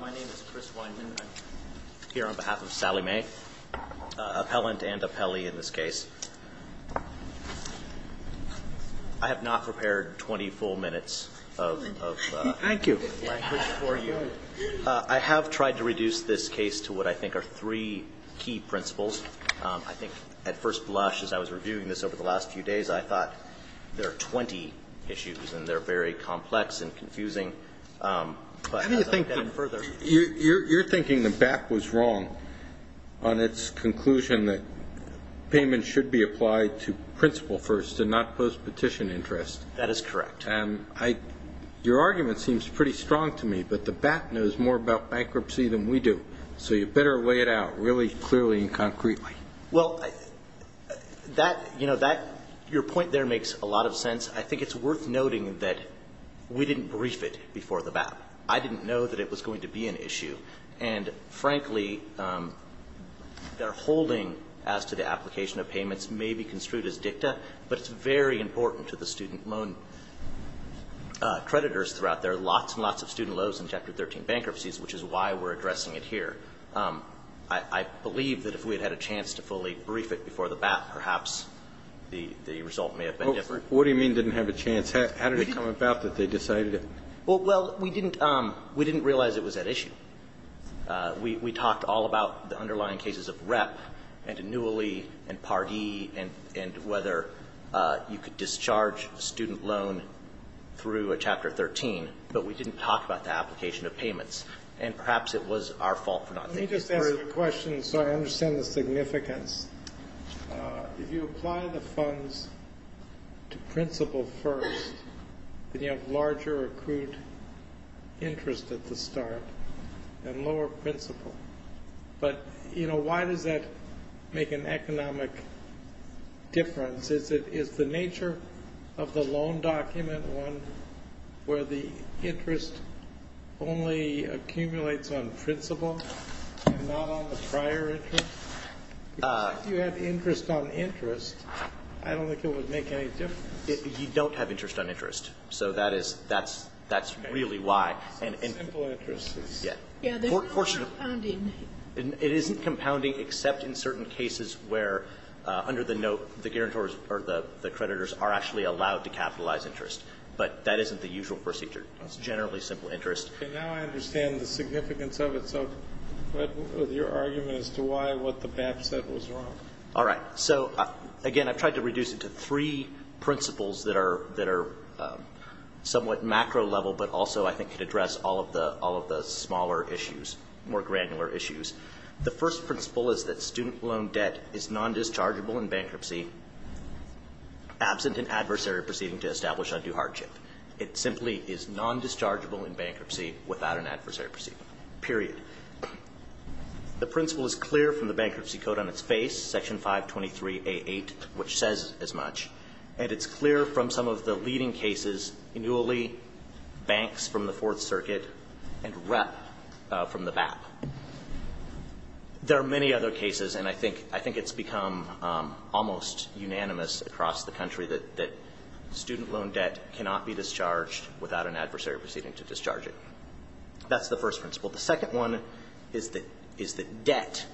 My name is Chris Weinman. I'm here on behalf of Sallie Mae, appellant and appellee in this case. I have not prepared 20 full minutes of language for you. I have tried to reduce this case to what I think are three key principles. I think at first blush, as I was reviewing this over the last few days, I thought there are 20 issues, and they're very complex and confusing. You're thinking the BAT was wrong on its conclusion that payment should be applied to principal first and not post-petition interest. That is correct. Your argument seems pretty strong to me, but the BAT knows more about bankruptcy than we do, so you better lay it out really clearly and concretely. Well, that, you know, that, your point there makes a lot of sense. I think it's worth noting that we didn't brief it before the BAT. I didn't know that it was going to be an issue. And frankly, their holding as to the application of payments may be construed as dicta, but it's very important to the student loan creditors throughout. There are lots and lots of student loans in Chapter 13 bankruptcies, which is why we're addressing it here. I believe that if we had had a chance to fully brief it before the BAT, perhaps the result may have been different. Well, what do you mean didn't have a chance? How did it come about that they decided it? Well, we didn't realize it was that issue. We talked all about the underlying cases of REP and annually and Pardee and whether you could discharge a student loan through a Chapter 13, but we didn't talk about the application of payments. And perhaps it was our fault for not thinking through it. Let me just ask you a question so I understand the significance. If you apply the funds to principal first, then you have larger accrued interest at the start and lower principal. But, you know, why does that make an economic difference? Is the nature of the loan document one where the interest only accumulates on principal and not on the prior interest? If you had interest on interest, I don't think it would make any difference. You don't have interest on interest. So that's really why. Simple interest. Yeah. It isn't compounding. Except in certain cases where under the note the guarantors or the creditors are actually allowed to capitalize interest. But that isn't the usual procedure. It's generally simple interest. Okay. Now I understand the significance of it. So what was your argument as to why what the BAP said was wrong? All right. So, again, I've tried to reduce it to three principles that are somewhat macro level, but also I think could address all of the smaller issues, more granular issues. The first principle is that student loan debt is nondischargeable in bankruptcy, absent an adversary proceeding to establish undue hardship. It simply is nondischargeable in bankruptcy without an adversary proceeding, period. The principle is clear from the bankruptcy code on its face, Section 523A8, which says as much, and it's clear from some of the leading cases, annually, banks from the Fourth Circuit, and rep from the BAP. There are many other cases, and I think it's become almost unanimous across the country that student loan debt cannot be discharged without an adversary proceeding to discharge it. That's the first principle. The second one is that debt,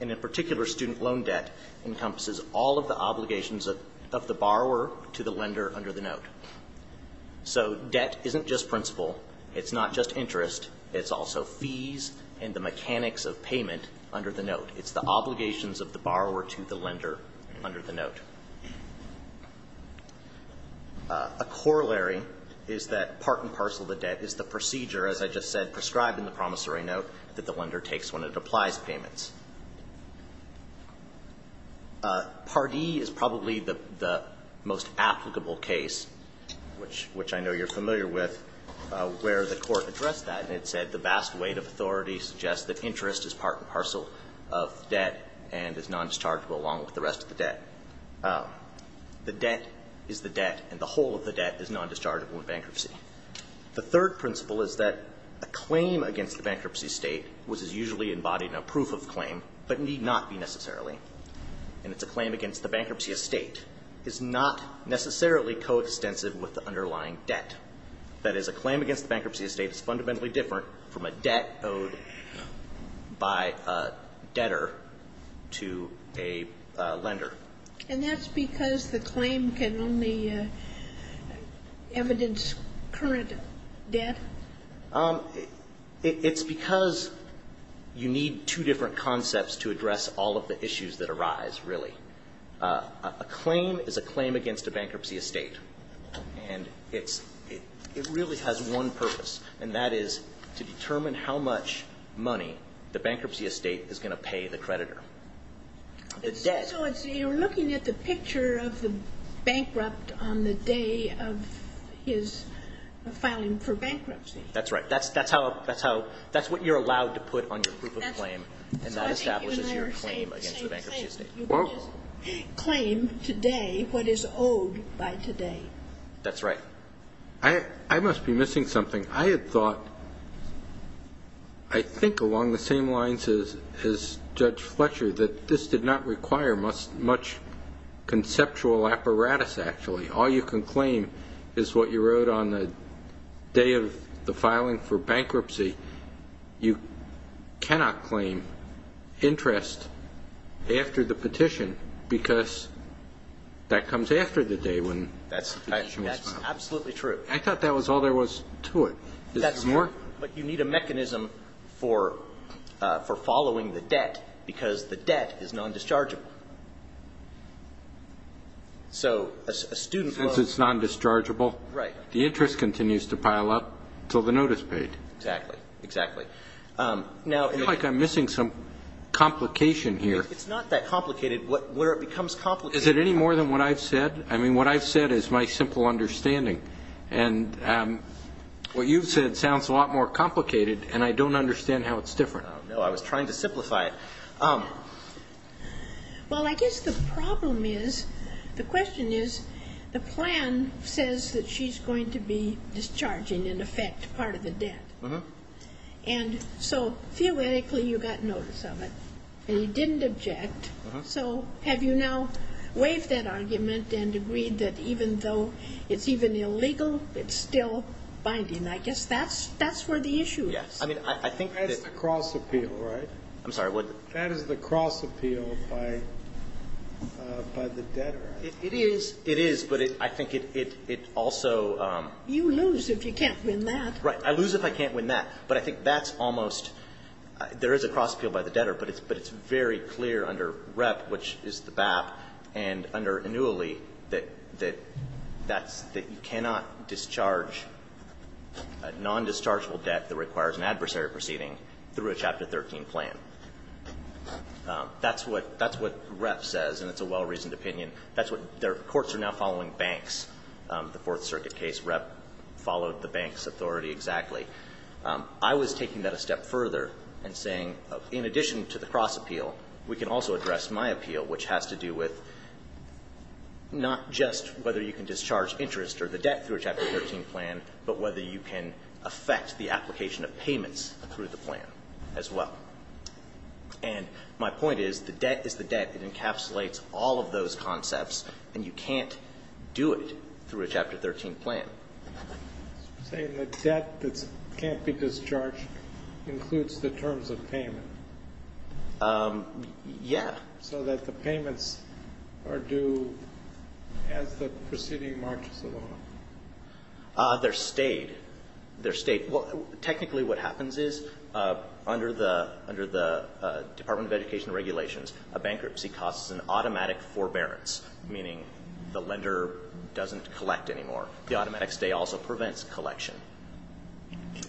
and in particular student loan debt, encompasses all of the obligations of the borrower to the lender under the note. So debt isn't just principle. It's not just interest. It's also fees and the mechanics of payment under the note. It's the obligations of the borrower to the lender under the note. A corollary is that part and parcel of the debt is the procedure, as I just said, prescribed in the promissory note that the lender takes when it applies payments. Pardee is probably the most applicable case, which I know you're familiar with, where the Court addressed that, and it said the vast weight of authority suggests that the debt is the debt and the whole of the debt is nondischargeable in bankruptcy. The third principle is that a claim against the bankruptcy state, which is usually embodied in a proof of claim but need not be necessarily, and it's a claim against the bankruptcy estate, is not necessarily coextensive with the underlying debt. That is, a claim against the bankruptcy estate is fundamentally different from a debt owed by a debtor to a lender. And that's because the claim can only evidence current debt? It's because you need two different concepts to address all of the issues that arise, really. A claim is a claim against a bankruptcy estate, and it really has one purpose, and that is to determine how much money the bankruptcy estate is going to pay the creditor. So you're looking at the picture of the bankrupt on the day of his filing for bankruptcy. That's right. That's what you're allowed to put on your proof of claim, and that establishes your claim against the bankruptcy estate. You can't claim today what is owed by today. That's right. I must be missing something. I had thought, I think along the same lines as Judge Fletcher, that this did not require much conceptual apparatus, actually. All you can claim is what you wrote on the day of the filing for bankruptcy. You cannot claim interest after the petition because that comes after the day when the petition was filed. That's absolutely true. I thought that was all there was to it. Is there more? But you need a mechanism for following the debt because the debt is non-dischargeable. So a student loan. Since it's non-dischargeable. Right. The interest continues to pile up until the note is paid. Exactly. Exactly. I feel like I'm missing some complication here. It's not that complicated. Where it becomes complicated. Is it any more than what I've said? I mean, what I've said is my simple understanding. And what you've said sounds a lot more complicated, and I don't understand how it's different. I don't know. I was trying to simplify it. Well, I guess the problem is, the question is, the plan says that she's going to be discharging, in effect, part of the debt. And so, theoretically, you got notice of it, and you didn't object. So have you now waived that argument and agreed that even though it's even illegal, it's still binding? I guess that's where the issue is. Yes. I mean, I think that's the cross-appeal, right? I'm sorry. That is the cross-appeal by the debtor. It is. It is. But I think it also You lose if you can't win that. I lose if I can't win that. But I think that's almost, there is a cross-appeal by the debtor, but it's very clear under Rep, which is the BAP, and under annually, that that's, that you cannot discharge a nondischargeable debt that requires an adversary proceeding through a Chapter 13 plan. That's what Rep says, and it's a well-reasoned opinion. That's what their courts are now following banks. The Fourth Circuit case, Rep followed the banks' authority exactly. I was taking that a step further and saying, in addition to the cross-appeal, we can also address my appeal, which has to do with not just whether you can discharge interest or the debt through a Chapter 13 plan, but whether you can affect the application of payments through the plan as well. And my point is, the debt is the debt. It encapsulates all of those concepts, and you can't do it through a Chapter 13 plan. Saying the debt that can't be discharged includes the terms of payment. Yeah. So that the payments are due as the proceeding marches along. They're stayed. They're stayed. Well, technically what happens is, under the Department of Education regulations, a bankruptcy costs an automatic forbearance, meaning the lender doesn't collect anymore. The automatic stay also prevents collection,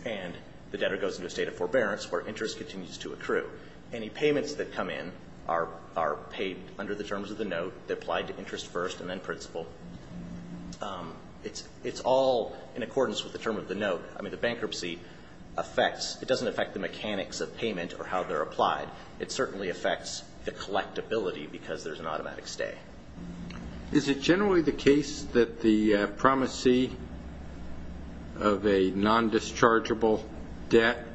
and the debtor goes into a state of forbearance where interest continues to accrue. Any payments that come in are paid under the terms of the note. They're applied to interest first and then principal. It's all in accordance with the term of the note. I mean, the bankruptcy affects the mechanics of payment or how they're applied. It certainly affects the collectability because there's an automatic stay. Is it generally the case that the promisee of a non-dischargeable debt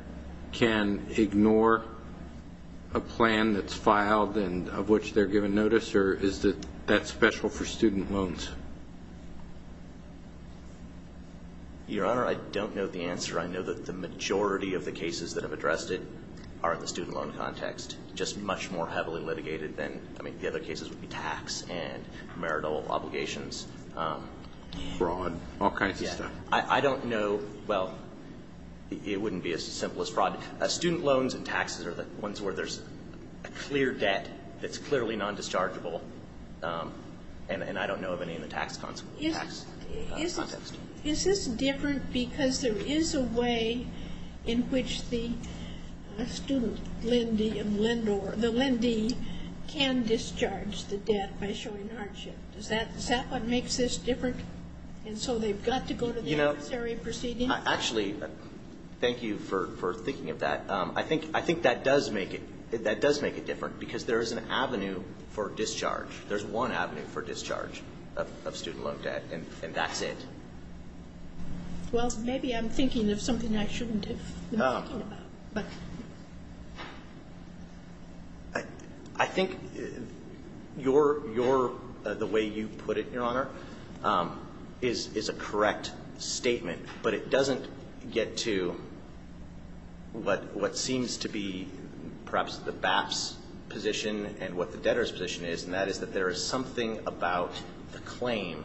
can ignore a plan that's filed and of which they're given notice, or is that special for student loans? Your Honor, I don't know the answer. I know that the majority of the cases that have addressed it are in the student loan context, just much more heavily litigated. I mean, the other cases would be tax and marital obligations. Fraud, all kinds of stuff. I don't know. Well, it wouldn't be as simple as fraud. Student loans and taxes are the ones where there's a clear debt that's clearly non-dischargeable, and I don't know of any in the tax context. Is this different because there is a way in which the student, LEND, or the LEND can discharge the debt by showing hardship? Is that what makes this different? And so they've got to go to the adversary proceeding? Actually, thank you for thinking of that. I think that does make it different because there is an avenue for discharge. There's one avenue for discharge of student loan debt, and that's it. Well, maybe I'm thinking of something I shouldn't have been thinking about. I think the way you put it, Your Honor, is a correct statement, but it doesn't get to what seems to be perhaps the BAPS position and what the debtor's position is, and that is that there is something about the claim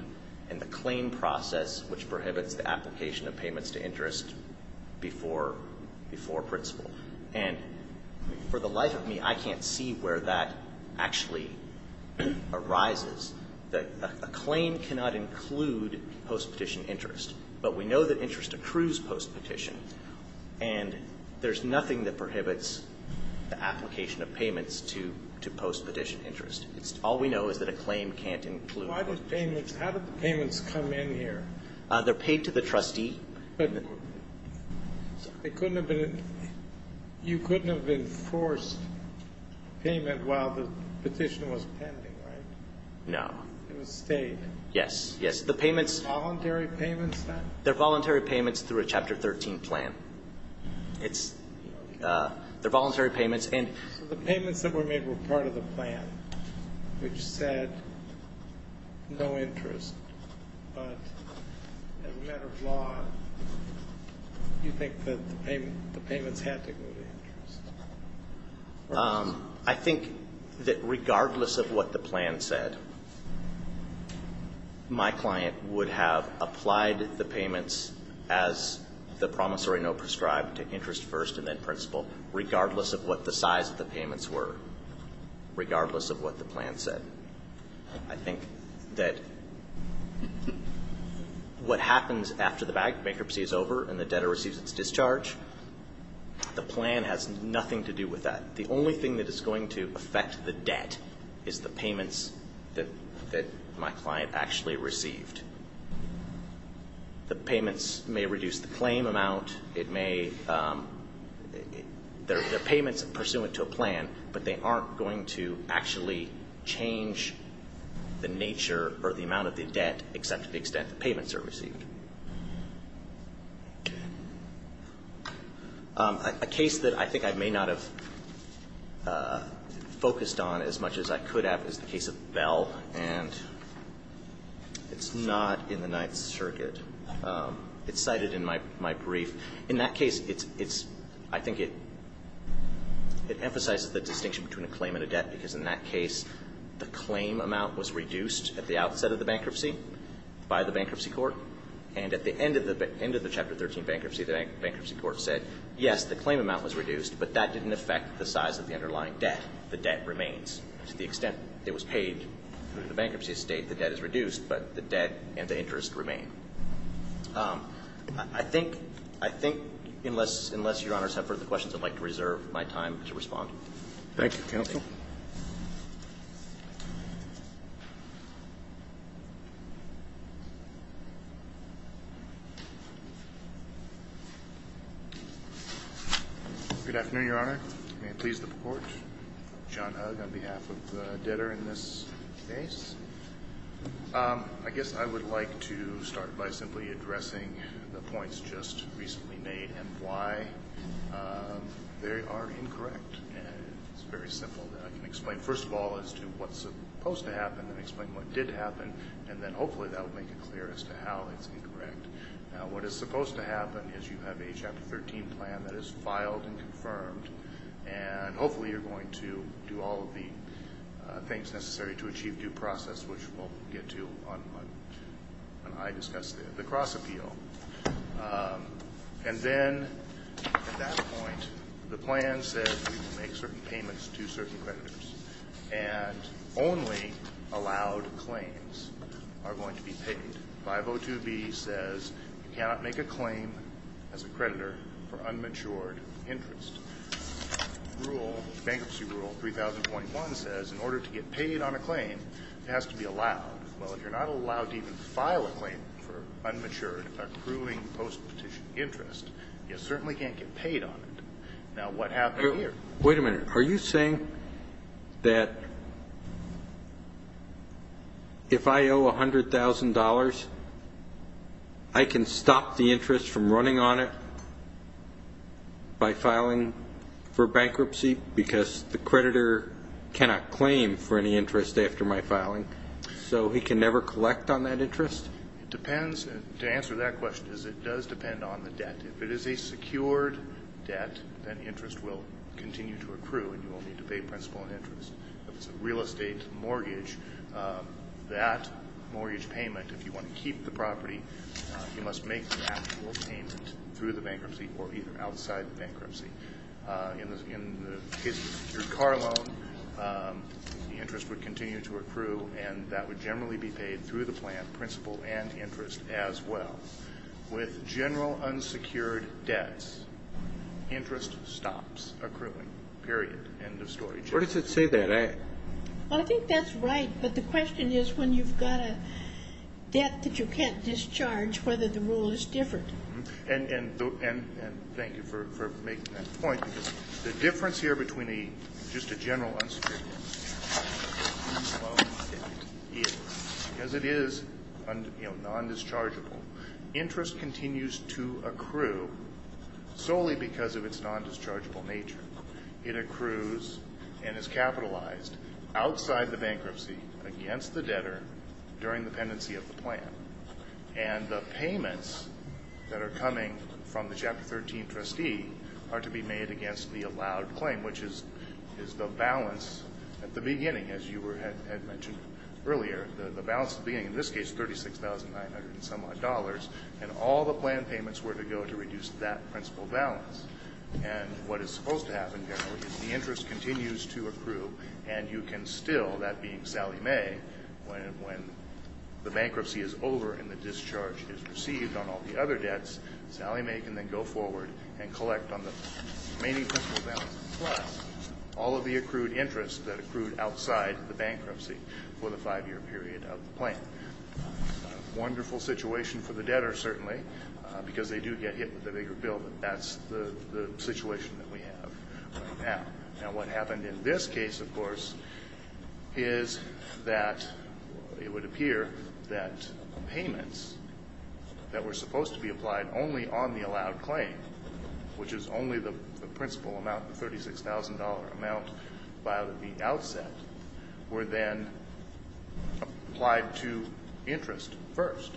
and the claim process which prohibits the application of payments to interest before principle. And for the life of me, I can't see where that actually arises. A claim cannot include post-petition interest, but we know that interest accrues post-petition, and there's nothing that prohibits the application of payments to post-petition interest. All we know is that a claim can't include it. Why did payments ñ how did the payments come in here? They're paid to the trustee. But it couldn't have been ñ you couldn't have enforced payment while the petition was pending, right? No. It was stayed. Yes, yes. The payments ñ Voluntary payments, then? They're voluntary payments through a Chapter 13 plan. It's ñ they're voluntary payments, and ñ So the payments that were made were part of the plan, which said no interest, but as a matter of law, you think that the payments had to go to interest? I think that regardless of what the plan said, my client would have applied the payments as the promissory note prescribed to interest first and then principle, regardless of what the size of the payments were, regardless of what the plan said. I think that what happens after the bankruptcy is over and the debtor receives its discharge, the plan has nothing to do with that. The only thing that is going to affect the debt is the payments that my client actually received. The payments may reduce the claim amount. It may ñ they're payments pursuant to a plan, but they aren't going to actually change the nature or the amount of the debt except to the extent the payments are received. A case that I think I may not have focused on as much as I could have is the case of Bell, and it's not in the Ninth Circuit. It's cited in my brief. In that case, it's ñ I think it emphasizes the distinction between a claim and a debt because in that case, the claim amount was reduced at the outset of the bankruptcy by the bankruptcy court, and at the end of the ñ end of the Chapter 13 bankruptcy, the bankruptcy court said, yes, the claim amount was reduced, but that didn't affect the size of the underlying debt. The debt remains. To the extent it was paid through the bankruptcy estate, the debt is reduced, but the debt and the interest remain. I think ñ I think unless ñ unless Your Honors have further questions, I'd like to reserve my time to respond. Thank you, counsel. Good afternoon, Your Honor. May it please the Court. John Hug on behalf of the debtor in this case. I guess I would like to start by simply addressing the points just recently made and why they are incorrect. It's very simple. I can explain first of all as to what's supposed to happen and explain what did happen, and then hopefully that will make it clear as to how it's incorrect. Now, what is supposed to happen is you have a Chapter 13 plan that is filed and confirmed, and hopefully you're going to do all of the things necessary to achieve due process, which we'll get to when I discuss the cross-appeal. And then at that point, the plan says we will make certain payments to certain creditors and only allowed claims are going to be paid. 502B says you cannot make a claim as a creditor for unmatured interest. Rule ñ Bankruptcy Rule 3021 says in order to get paid on a claim, it has to be allowed. Well, if you're not allowed to even file a claim for unmatured accruing post-petition interest, you certainly can't get paid on it. Now, what happened here? Wait a minute. Are you saying that if I owe $100,000, I can stop the interest from running on it by filing for bankruptcy because the creditor cannot claim for any interest after my filing? So he can never collect on that interest? It depends. To answer that question is it does depend on the debt. If it is a secured debt, then interest will continue to accrue and you won't need to pay principal and interest. If it's a real estate mortgage, that mortgage payment, if you want to keep the property, you must make the actual payment through the bankruptcy or either outside the bankruptcy. In the case of a secured car loan, the interest would continue to accrue and that would generally be paid through the plan principal and interest as well. With general unsecured debts, interest stops accruing, period, end of story. What does it say there? Well, I think that's right, but the question is when you've got a debt that you can't discharge, whether the rule is different. And thank you for making that point because the difference here between just a general unsecured debt and a loan debt is because it is non-dischargeable, interest continues to accrue solely because of its non-dischargeable nature. It accrues and is capitalized outside the bankruptcy against the debtor during the pendency of the plan. And the payments that are coming from the Chapter 13 trustee are to be made against the allowed claim, which is the balance at the beginning, as you had mentioned earlier, the balance at the beginning, in this case $36,900 and some odd dollars, and all the plan payments were to go to reduce that principal balance. And what is supposed to happen generally is the interest continues to accrue and you can still, that being Sallie Mae, when the bankruptcy is over and the discharge is received on all the other debts, Sallie Mae can then go forward and collect on the remaining principal balance plus all of the accrued interest that accrued outside the bankruptcy for the five-year period of the plan. Wonderful situation for the debtor, certainly, because they do get hit with the bigger bill, but that's the situation that we have right now. Now, what happened in this case, of course, is that it would appear that payments that were supposed to be applied only on the allowed claim, which is only the principal amount, the $36,000 amount by the outset, were then applied to interest first.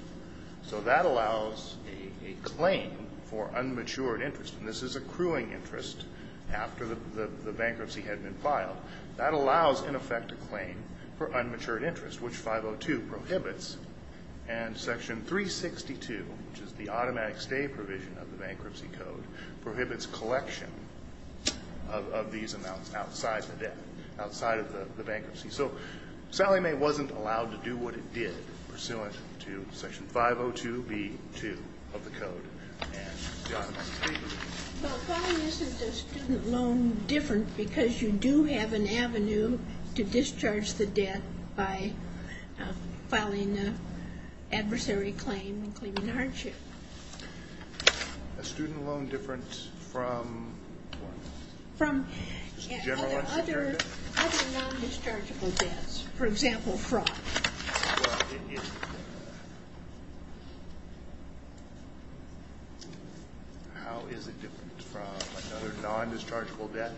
So that allows a claim for unmatured interest, and this is accruing interest after the bankruptcy had been filed. That allows, in effect, a claim for unmatured interest, which 502 prohibits, and Section 362, which is the automatic stay provision of the Bankruptcy Code, prohibits collection of these amounts outside the debt, outside of the bankruptcy. So Sallie Mae wasn't allowed to do what it did, pursuant to Section 502B2 of the Code. But why isn't a student loan different? Because you do have an avenue to discharge the debt by filing an adversary claim and claiming hardship. A student loan different from what? From other non-dischargeable debts, for example, fraud. Well, it is. How is it different from another non-dischargeable debt?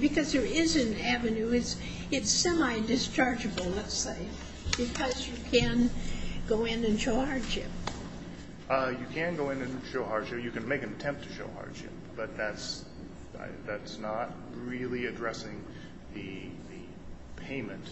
Because there is an avenue. It's semi-dischargeable, let's say, because you can go in and show hardship. You can go in and show hardship. You can make an attempt to show hardship, but that's not really addressing the payment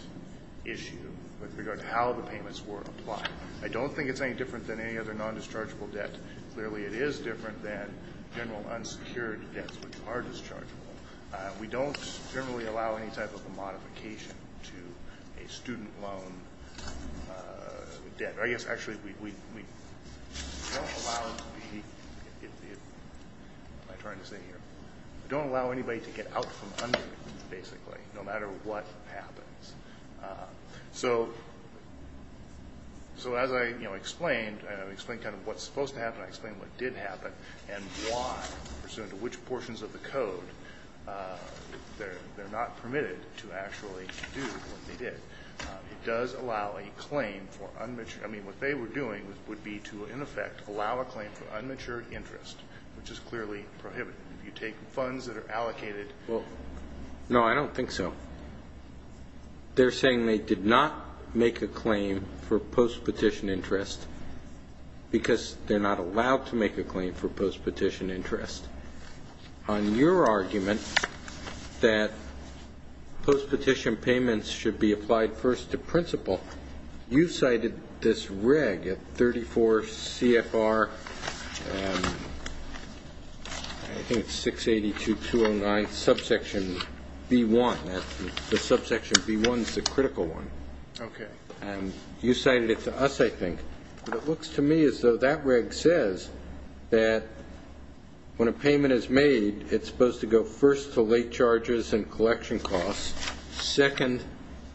issue with regard to how the payments were applied. I don't think it's any different than any other non-dischargeable debt. Clearly it is different than general unsecured debts, which are dischargeable. We don't generally allow any type of a modification to a student loan debt. I guess actually we don't allow anybody to get out from under it, basically, no matter what happens. So as I explained, I explained kind of what's supposed to happen, I explained what did happen, and why, pursuant to which portions of the Code, they're not permitted to actually do what they did. It does allow a claim for unmatured. I mean, what they were doing would be to, in effect, allow a claim for unmatured interest, which is clearly prohibited. You take funds that are allocated. Well, no, I don't think so. They're saying they did not make a claim for post-petition interest because they're not allowed to make a claim for post-petition interest. On your argument that post-petition payments should be applied first to principal, you cited this reg at 34 CFR, I think it's 682.209, subsection B1. The subsection B1 is the critical one. Okay. And you cited it to us, I think. It looks to me as though that reg says that when a payment is made, it's supposed to go first to late charges and collection costs, second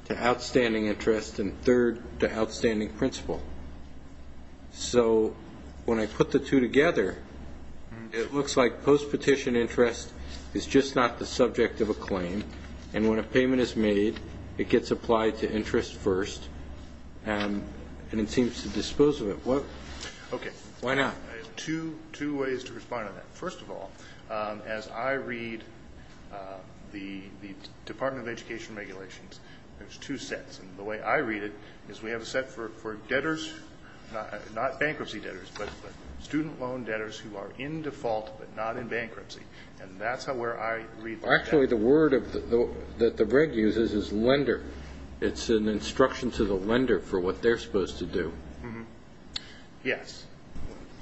to outstanding interest, and third to outstanding principal. So when I put the two together, it looks like post-petition interest is just not the subject of a claim, and when a payment is made, it gets applied to interest first, and it seems to dispose of it. Okay. Why not? I have two ways to respond to that. First of all, as I read the Department of Education regulations, there's two sets, and the way I read it is we have a set for debtors, not bankruptcy debtors, but student loan debtors who are in default but not in bankruptcy, and that's where I read that. Actually, the word that the reg uses is lender. It's an instruction to the lender for what they're supposed to do. Yes.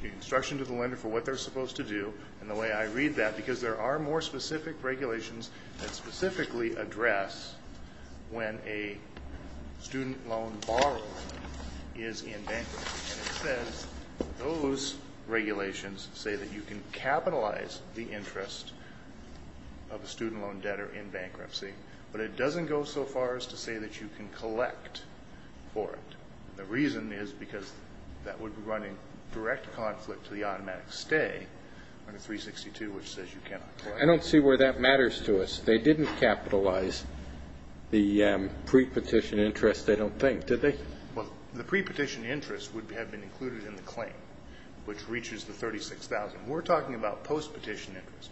The instruction to the lender for what they're supposed to do, and the way I read that, because there are more specific regulations that specifically address when a student loan borrower is in bankruptcy, and it says those regulations say that you can capitalize the interest of a student loan debtor in bankruptcy, but it doesn't go so far as to say that you can collect for it. The reason is because that would run in direct conflict to the automatic stay under 362, which says you cannot collect. I don't see where that matters to us. They didn't capitalize the pre-petition interest, they don't think, did they? Well, the pre-petition interest would have been included in the claim, which reaches the $36,000. We're talking about post-petition interest,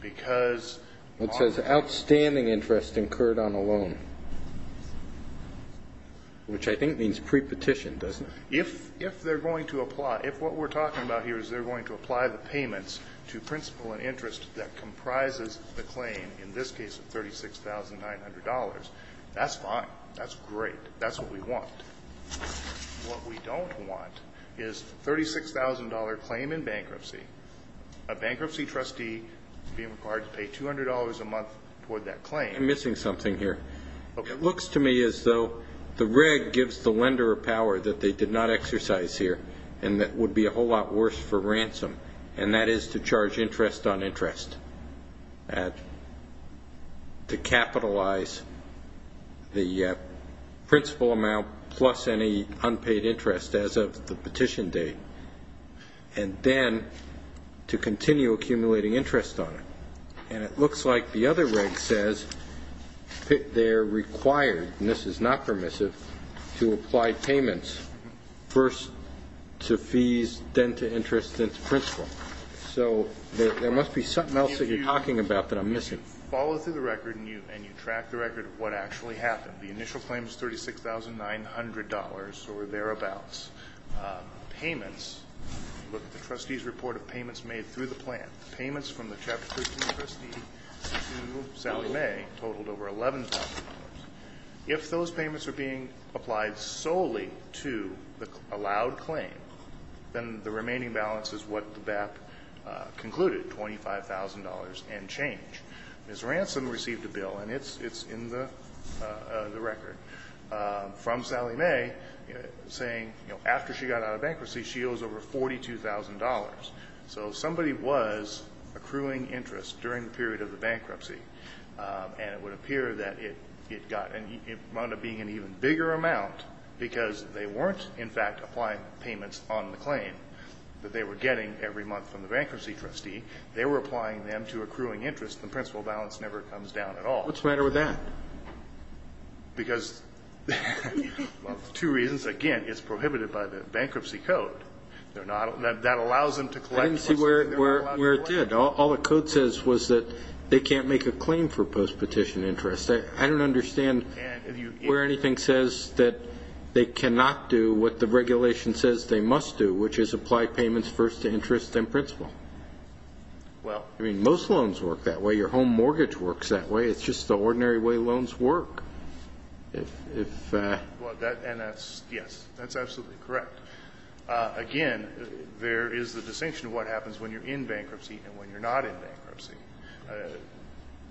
because on the loan. It says outstanding interest incurred on a loan, which I think means pre-petition, doesn't it? If they're going to apply, if what we're talking about here is they're going to apply the payments to principal and interest that comprises the claim, in this case $36,900, that's fine, that's great, that's what we want. What we don't want is a $36,000 claim in bankruptcy, a bankruptcy trustee being required to pay $200 a month toward that claim. I'm missing something here. It looks to me as though the reg gives the lender a power that they did not exercise here, and that would be a whole lot worse for ransom, and that is to charge interest on interest, to capitalize the principal amount plus any unpaid interest as of the petition date, and then to continue accumulating interest on it. And it looks like the other reg says they're required, and this is not permissive, to apply payments, first to fees, then to interest, then to principal. So there must be something else that you're talking about that I'm missing. If you follow through the record and you track the record of what actually happened, the initial claim is $36,900 or thereabouts. Payments, look at the trustee's report of payments made through the plan, payments from the Chapter 13 trustee to Sally May totaled over $11,000. If those payments are being applied solely to the allowed claim, then the remaining balance is what the BAP concluded, $25,000 and change. Ms. Ransom received a bill, and it's in the record, from Sally May saying, you know, after she got out of bankruptcy, she owes over $42,000. So somebody was accruing interest during the period of the bankruptcy, and it would appear that it got and it wound up being an even bigger amount because they weren't, in fact, applying payments on the claim that they were getting every month from the bankruptcy trustee. They were applying them to accruing interest. The principal balance never comes down at all. What's the matter with that? Because of two reasons. Again, it's prohibited by the bankruptcy code. That allows them to collect. I didn't see where it did. All the code says was that they can't make a claim for post-petition interest. I don't understand where anything says that they cannot do what the regulation says they must do, which is apply payments first to interest and principal. I mean, most loans work that way. Your home mortgage works that way. It's just the ordinary way loans work. Yes, that's absolutely correct. Again, there is the distinction of what happens when you're in bankruptcy and when you're not in bankruptcy.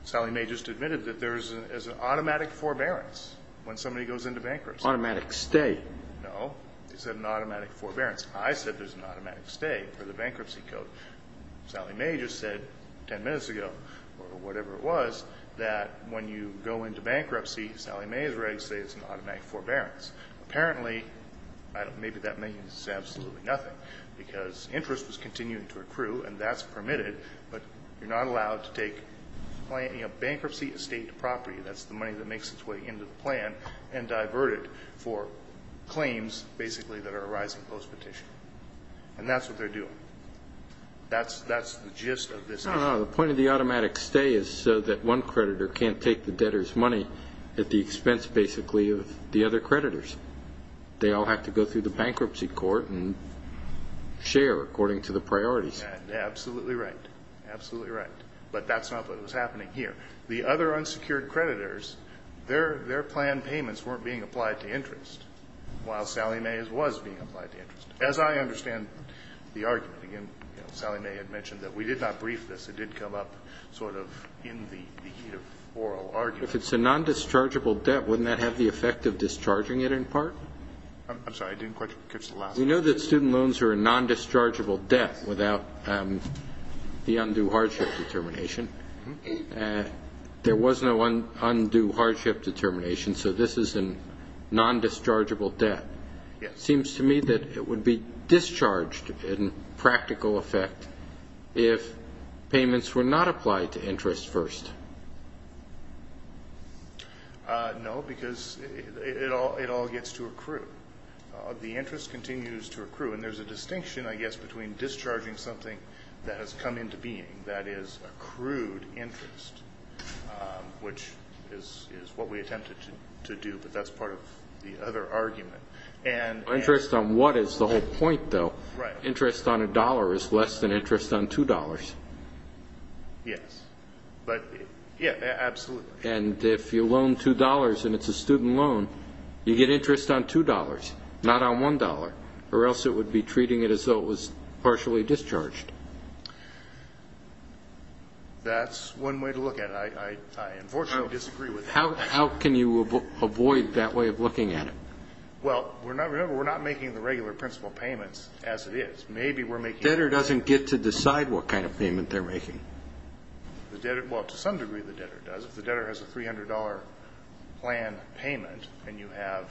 Sally Mae just admitted that there is an automatic forbearance when somebody goes into bankruptcy. Automatic stay. No. It's an automatic forbearance. I said there's an automatic stay for the bankruptcy code. Sally Mae just said 10 minutes ago, or whatever it was, that when you go into bankruptcy, Sally Mae is ready to say it's an automatic forbearance. Apparently, maybe that means absolutely nothing because interest was continuing to accrue, and that's permitted, but you're not allowed to take bankruptcy estate property. That's the money that makes its way into the plan and divert it for claims, basically, that are arising post-petition. And that's what they're doing. That's the gist of this. No, no. The point of the automatic stay is so that one creditor can't take the debtor's money at the expense, basically, of the other creditors. They all have to go through the bankruptcy court and share according to the priorities. Absolutely right. Absolutely right. But that's not what was happening here. The other unsecured creditors, their plan payments weren't being applied to interest, while Sally Mae's was being applied to interest. As I understand the argument, again, Sally Mae had mentioned that we did not brief this. It did come up sort of in the oral argument. If it's a non-dischargeable debt, wouldn't that have the effect of discharging it in part? I'm sorry. I didn't quite catch the last part. We know that student loans are a non-dischargeable debt without the undue hardship determination. There was no undue hardship determination, so this is a non-dischargeable debt. It seems to me that it would be discharged in practical effect if payments were not applied to interest first. No, because it all gets to accrue. The interest continues to accrue, and there's a distinction, I guess, between discharging something that has come into being, that is accrued interest, which is what we attempted to do, but that's part of the other argument. Interest on what is the whole point, though? Right. Interest on $1 is less than interest on $2. Yes. But, yeah, absolutely. And if you loan $2 and it's a student loan, you get interest on $2, not on $1, or else it would be treating it as though it was partially discharged. That's one way to look at it. I unfortunately disagree with that. How can you avoid that way of looking at it? Well, remember, we're not making the regular principal payments as it is. Debtor doesn't get to decide what kind of payment they're making. Well, to some degree the debtor does. If the debtor has a $300 plan payment and you have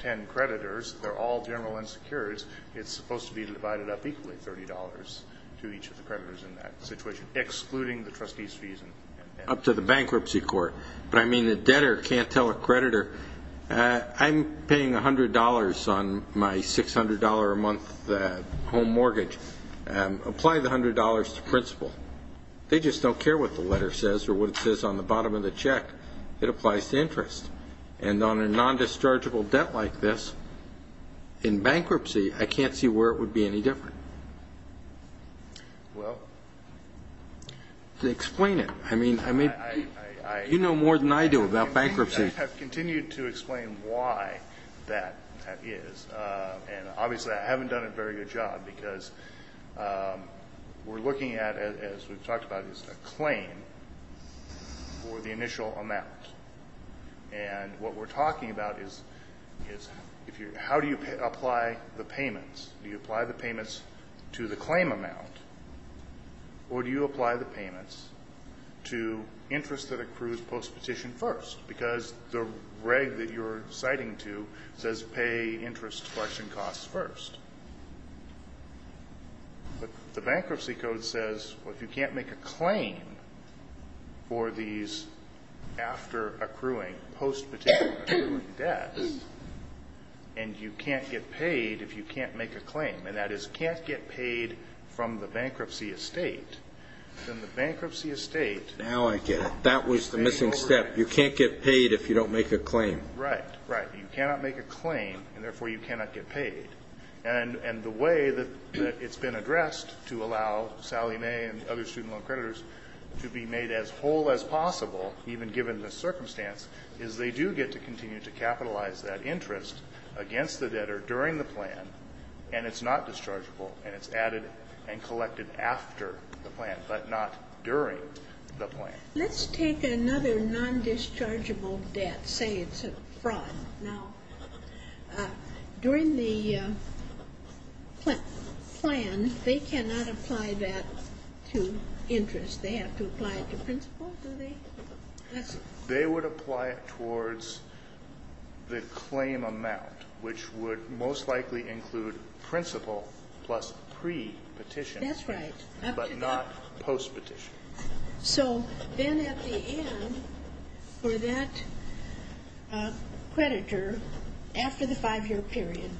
ten creditors, they're all general insecurities, it's supposed to be divided up equally, $30 to each of the creditors in that situation, excluding the trustee's fees. Up to the bankruptcy court. But, I mean, the debtor can't tell a creditor, I'm paying $100 on my $600 a month home mortgage. Apply the $100 to principal. They just don't care what the letter says or what it says on the bottom of the check. It applies to interest. And on a non-dischargeable debt like this, in bankruptcy, I can't see where it would be any different. Well. Explain it. I mean, you know more than I do about bankruptcy. I have continued to explain why that is. And, obviously, I haven't done a very good job because we're looking at, as we've talked about, a claim for the initial amount. And what we're talking about is how do you apply the payments? Do you apply the payments to the claim amount, or do you apply the payments to interest that accrues post-petition first? Because the reg that you're citing to says pay interest collection costs first. But the bankruptcy code says, well, if you can't make a claim for these after accruing, post-petition accruing debts, and you can't get paid if you can't make a claim, and that is can't get paid from the bankruptcy estate, then the bankruptcy estate. Now I get it. That was the missing step. You can't get paid if you don't make a claim. Right, right. You cannot make a claim, and, therefore, you cannot get paid. And the way that it's been addressed to allow Sally Mae and other student loan creditors to be made as whole as possible, even given the circumstance, is they do get to continue to capitalize that interest against the debtor during the plan, and it's not dischargeable, and it's added and collected after the plan, but not during the plan. Let's take another non-dischargeable debt. Say it's a fraud. Now, during the plan, they cannot apply that to interest. They have to apply it to principal, do they? They would apply it towards the claim amount, which would most likely include principal plus pre-petition. That's right. But not post-petition. So then, at the end, for that creditor, after the five-year period,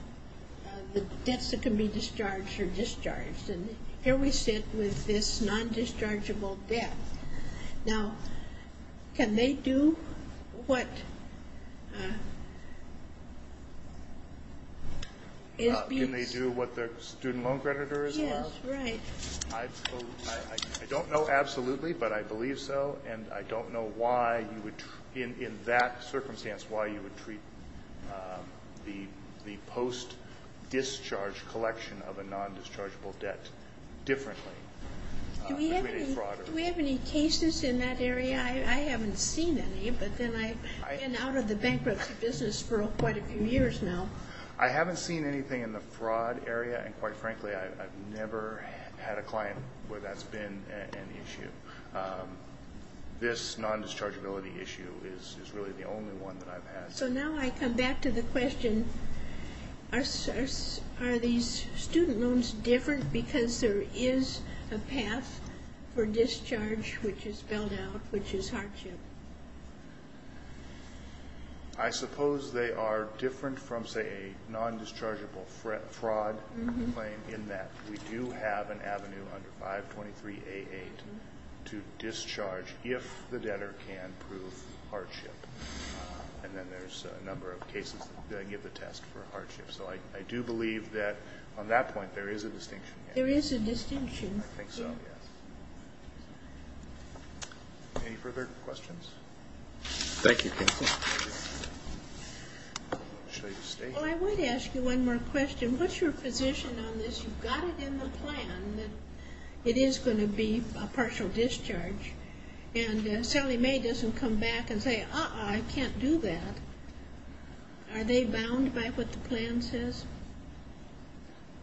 the debts that can be discharged are discharged. And here we sit with this non-dischargeable debt. Now, can they do what is being said? Can they do what their student loan creditors are? Yes, right. I don't know absolutely, but I believe so. And I don't know why you would, in that circumstance, why you would treat the post-discharge collection of a non-dischargeable debt differently. Do we have any cases in that area? I haven't seen any, but then I've been out of the bankruptcy business for quite a few years now. I haven't seen anything in the fraud area. And, quite frankly, I've never had a client where that's been an issue. This non-dischargeability issue is really the only one that I've had. So now I come back to the question, are these student loans different because there is a path for discharge, which is spelled out, which is hardship? I suppose they are different from, say, a non-dischargeable fraud claim in that we do have an avenue under 523A8 to discharge if the debtor can prove hardship. And then there's a number of cases that give the test for hardship. So I do believe that on that point there is a distinction. There is a distinction. I think so, yes. Any further questions? Thank you, counsel. Well, I would ask you one more question. What's your position on this? You've got it in the plan that it is going to be a partial discharge. And Sally May doesn't come back and say, uh-uh, I can't do that. Are they bound by what the plan says?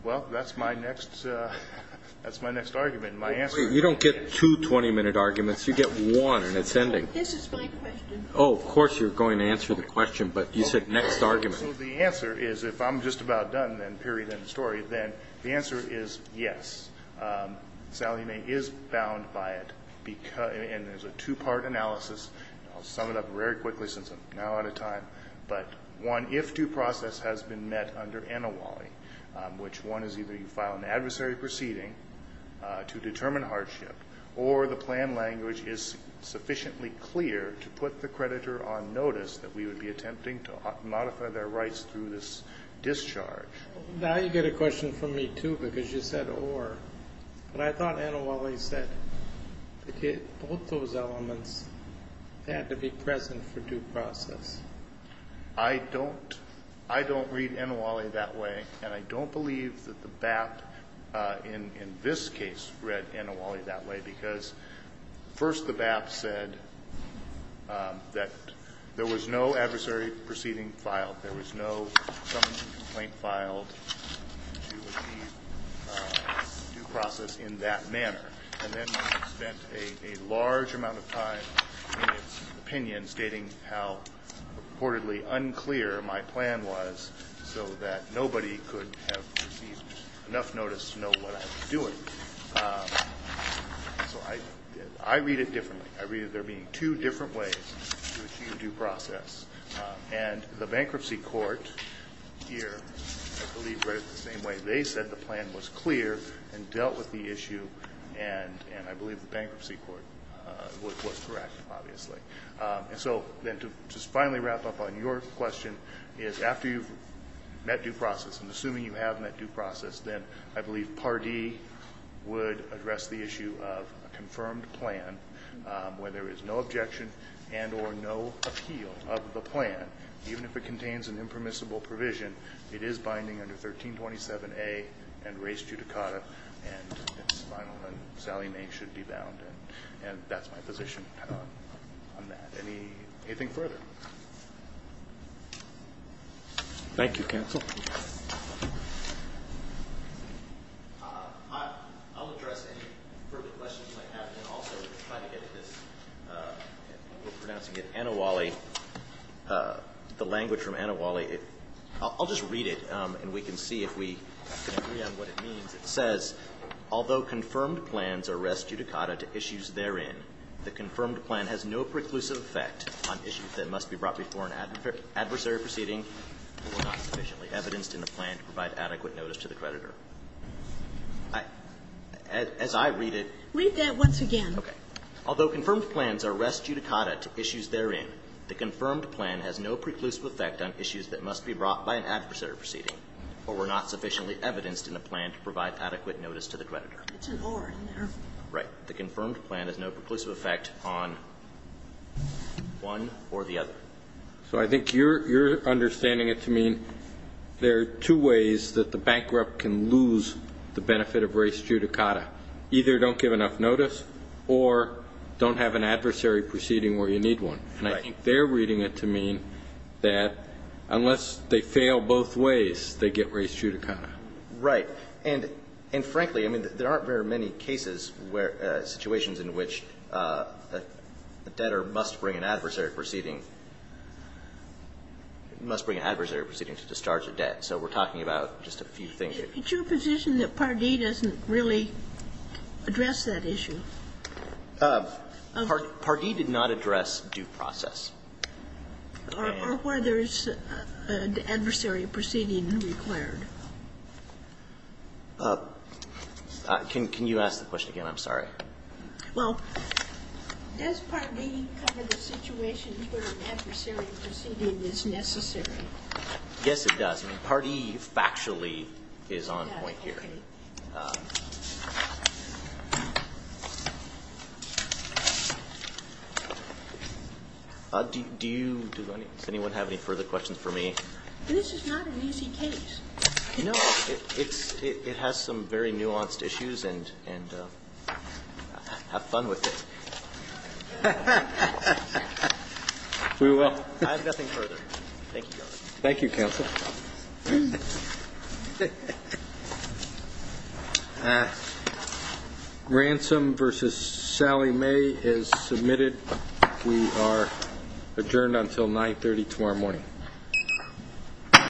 Well, that's my next argument. You don't get two 20-minute arguments. You get one, and it's ending. This is my question. Oh, of course you're going to answer the question, but you said next argument. So the answer is, if I'm just about done, then period, end of story, then the answer is yes. Sally May is bound by it, and there's a two-part analysis. I'll sum it up very quickly since I'm now out of time. But one, if due process has been met under ANAWALI, which one is either you file an adversary proceeding to determine hardship or the plan language is sufficiently clear to put the creditor on notice that we would be attempting to modify their rights through this discharge. Now you get a question from me, too, because you said or. But I thought ANAWALI said both those elements had to be present for due process. I don't read ANAWALI that way, and I don't believe that the BAP in this case read ANAWALI that way, because first the BAP said that there was no adversary proceeding filed. There was no summons and complaint filed to achieve due process in that manner. And then they spent a large amount of time in its opinion stating how reportedly unclear my plan was so that nobody could have received enough notice to know what I was doing. So I read it differently. I read it there being two different ways to achieve due process. And the bankruptcy court here, I believe, read it the same way. They said the plan was clear and dealt with the issue, and I believe the bankruptcy court was correct, obviously. And so then to just finally wrap up on your question is after you've met due process, and assuming you have met due process, then I believe Pardee would address the issue of a confirmed plan where there is no objection and or no appeal of the plan, even if it contains an impermissible provision. It is binding under 1327A and res judicata, and it's final. And Sally May should be bound. And that's my position on that. Anything further? Thank you, counsel. I'll address any further questions you might have and also try to get at this. We're pronouncing it ANAWALI. The language from ANAWALI, I'll just read it, and we can see if we can agree on what it means. It says, Although confirmed plans are res judicata to issues therein, the confirmed plan has no preclusive effect on issues that must be brought before an adversary proceeding or not sufficiently evidenced in the plan to provide adequate notice to the creditor. As I read it. Read that once again. Okay. Although confirmed plans are res judicata to issues therein, the confirmed plan has no preclusive effect on issues that must be brought by an adversary proceeding or were not sufficiently evidenced in the plan to provide adequate notice to the creditor. It's an or in there. Right. The confirmed plan has no preclusive effect on one or the other. So I think you're understanding it to mean there are two ways that the bankrupt can lose the benefit of res judicata. Either don't give enough notice or don't have an adversary proceeding where you need one. Right. And I think they're reading it to mean that unless they fail both ways, they get res judicata. Right. And frankly, I mean, there aren't very many cases where situations in which a debtor must bring an adversary proceeding to discharge a debt. So we're talking about just a few things here. It's your position that Pardee doesn't really address that issue? Pardee did not address due process. Or whether there's an adversary proceeding required. Can you ask the question again? I'm sorry. Well, does Pardee cover the situations where an adversary proceeding is necessary? Yes, it does. Pardee factually is on point here. Does anyone have any further questions for me? This is not an easy case. No. It has some very nuanced issues, and have fun with it. I have nothing further. Thank you, Your Honor. Thank you, Counsel. Ransom versus Sally May is submitted. We are adjourned until 9.30 tomorrow morning.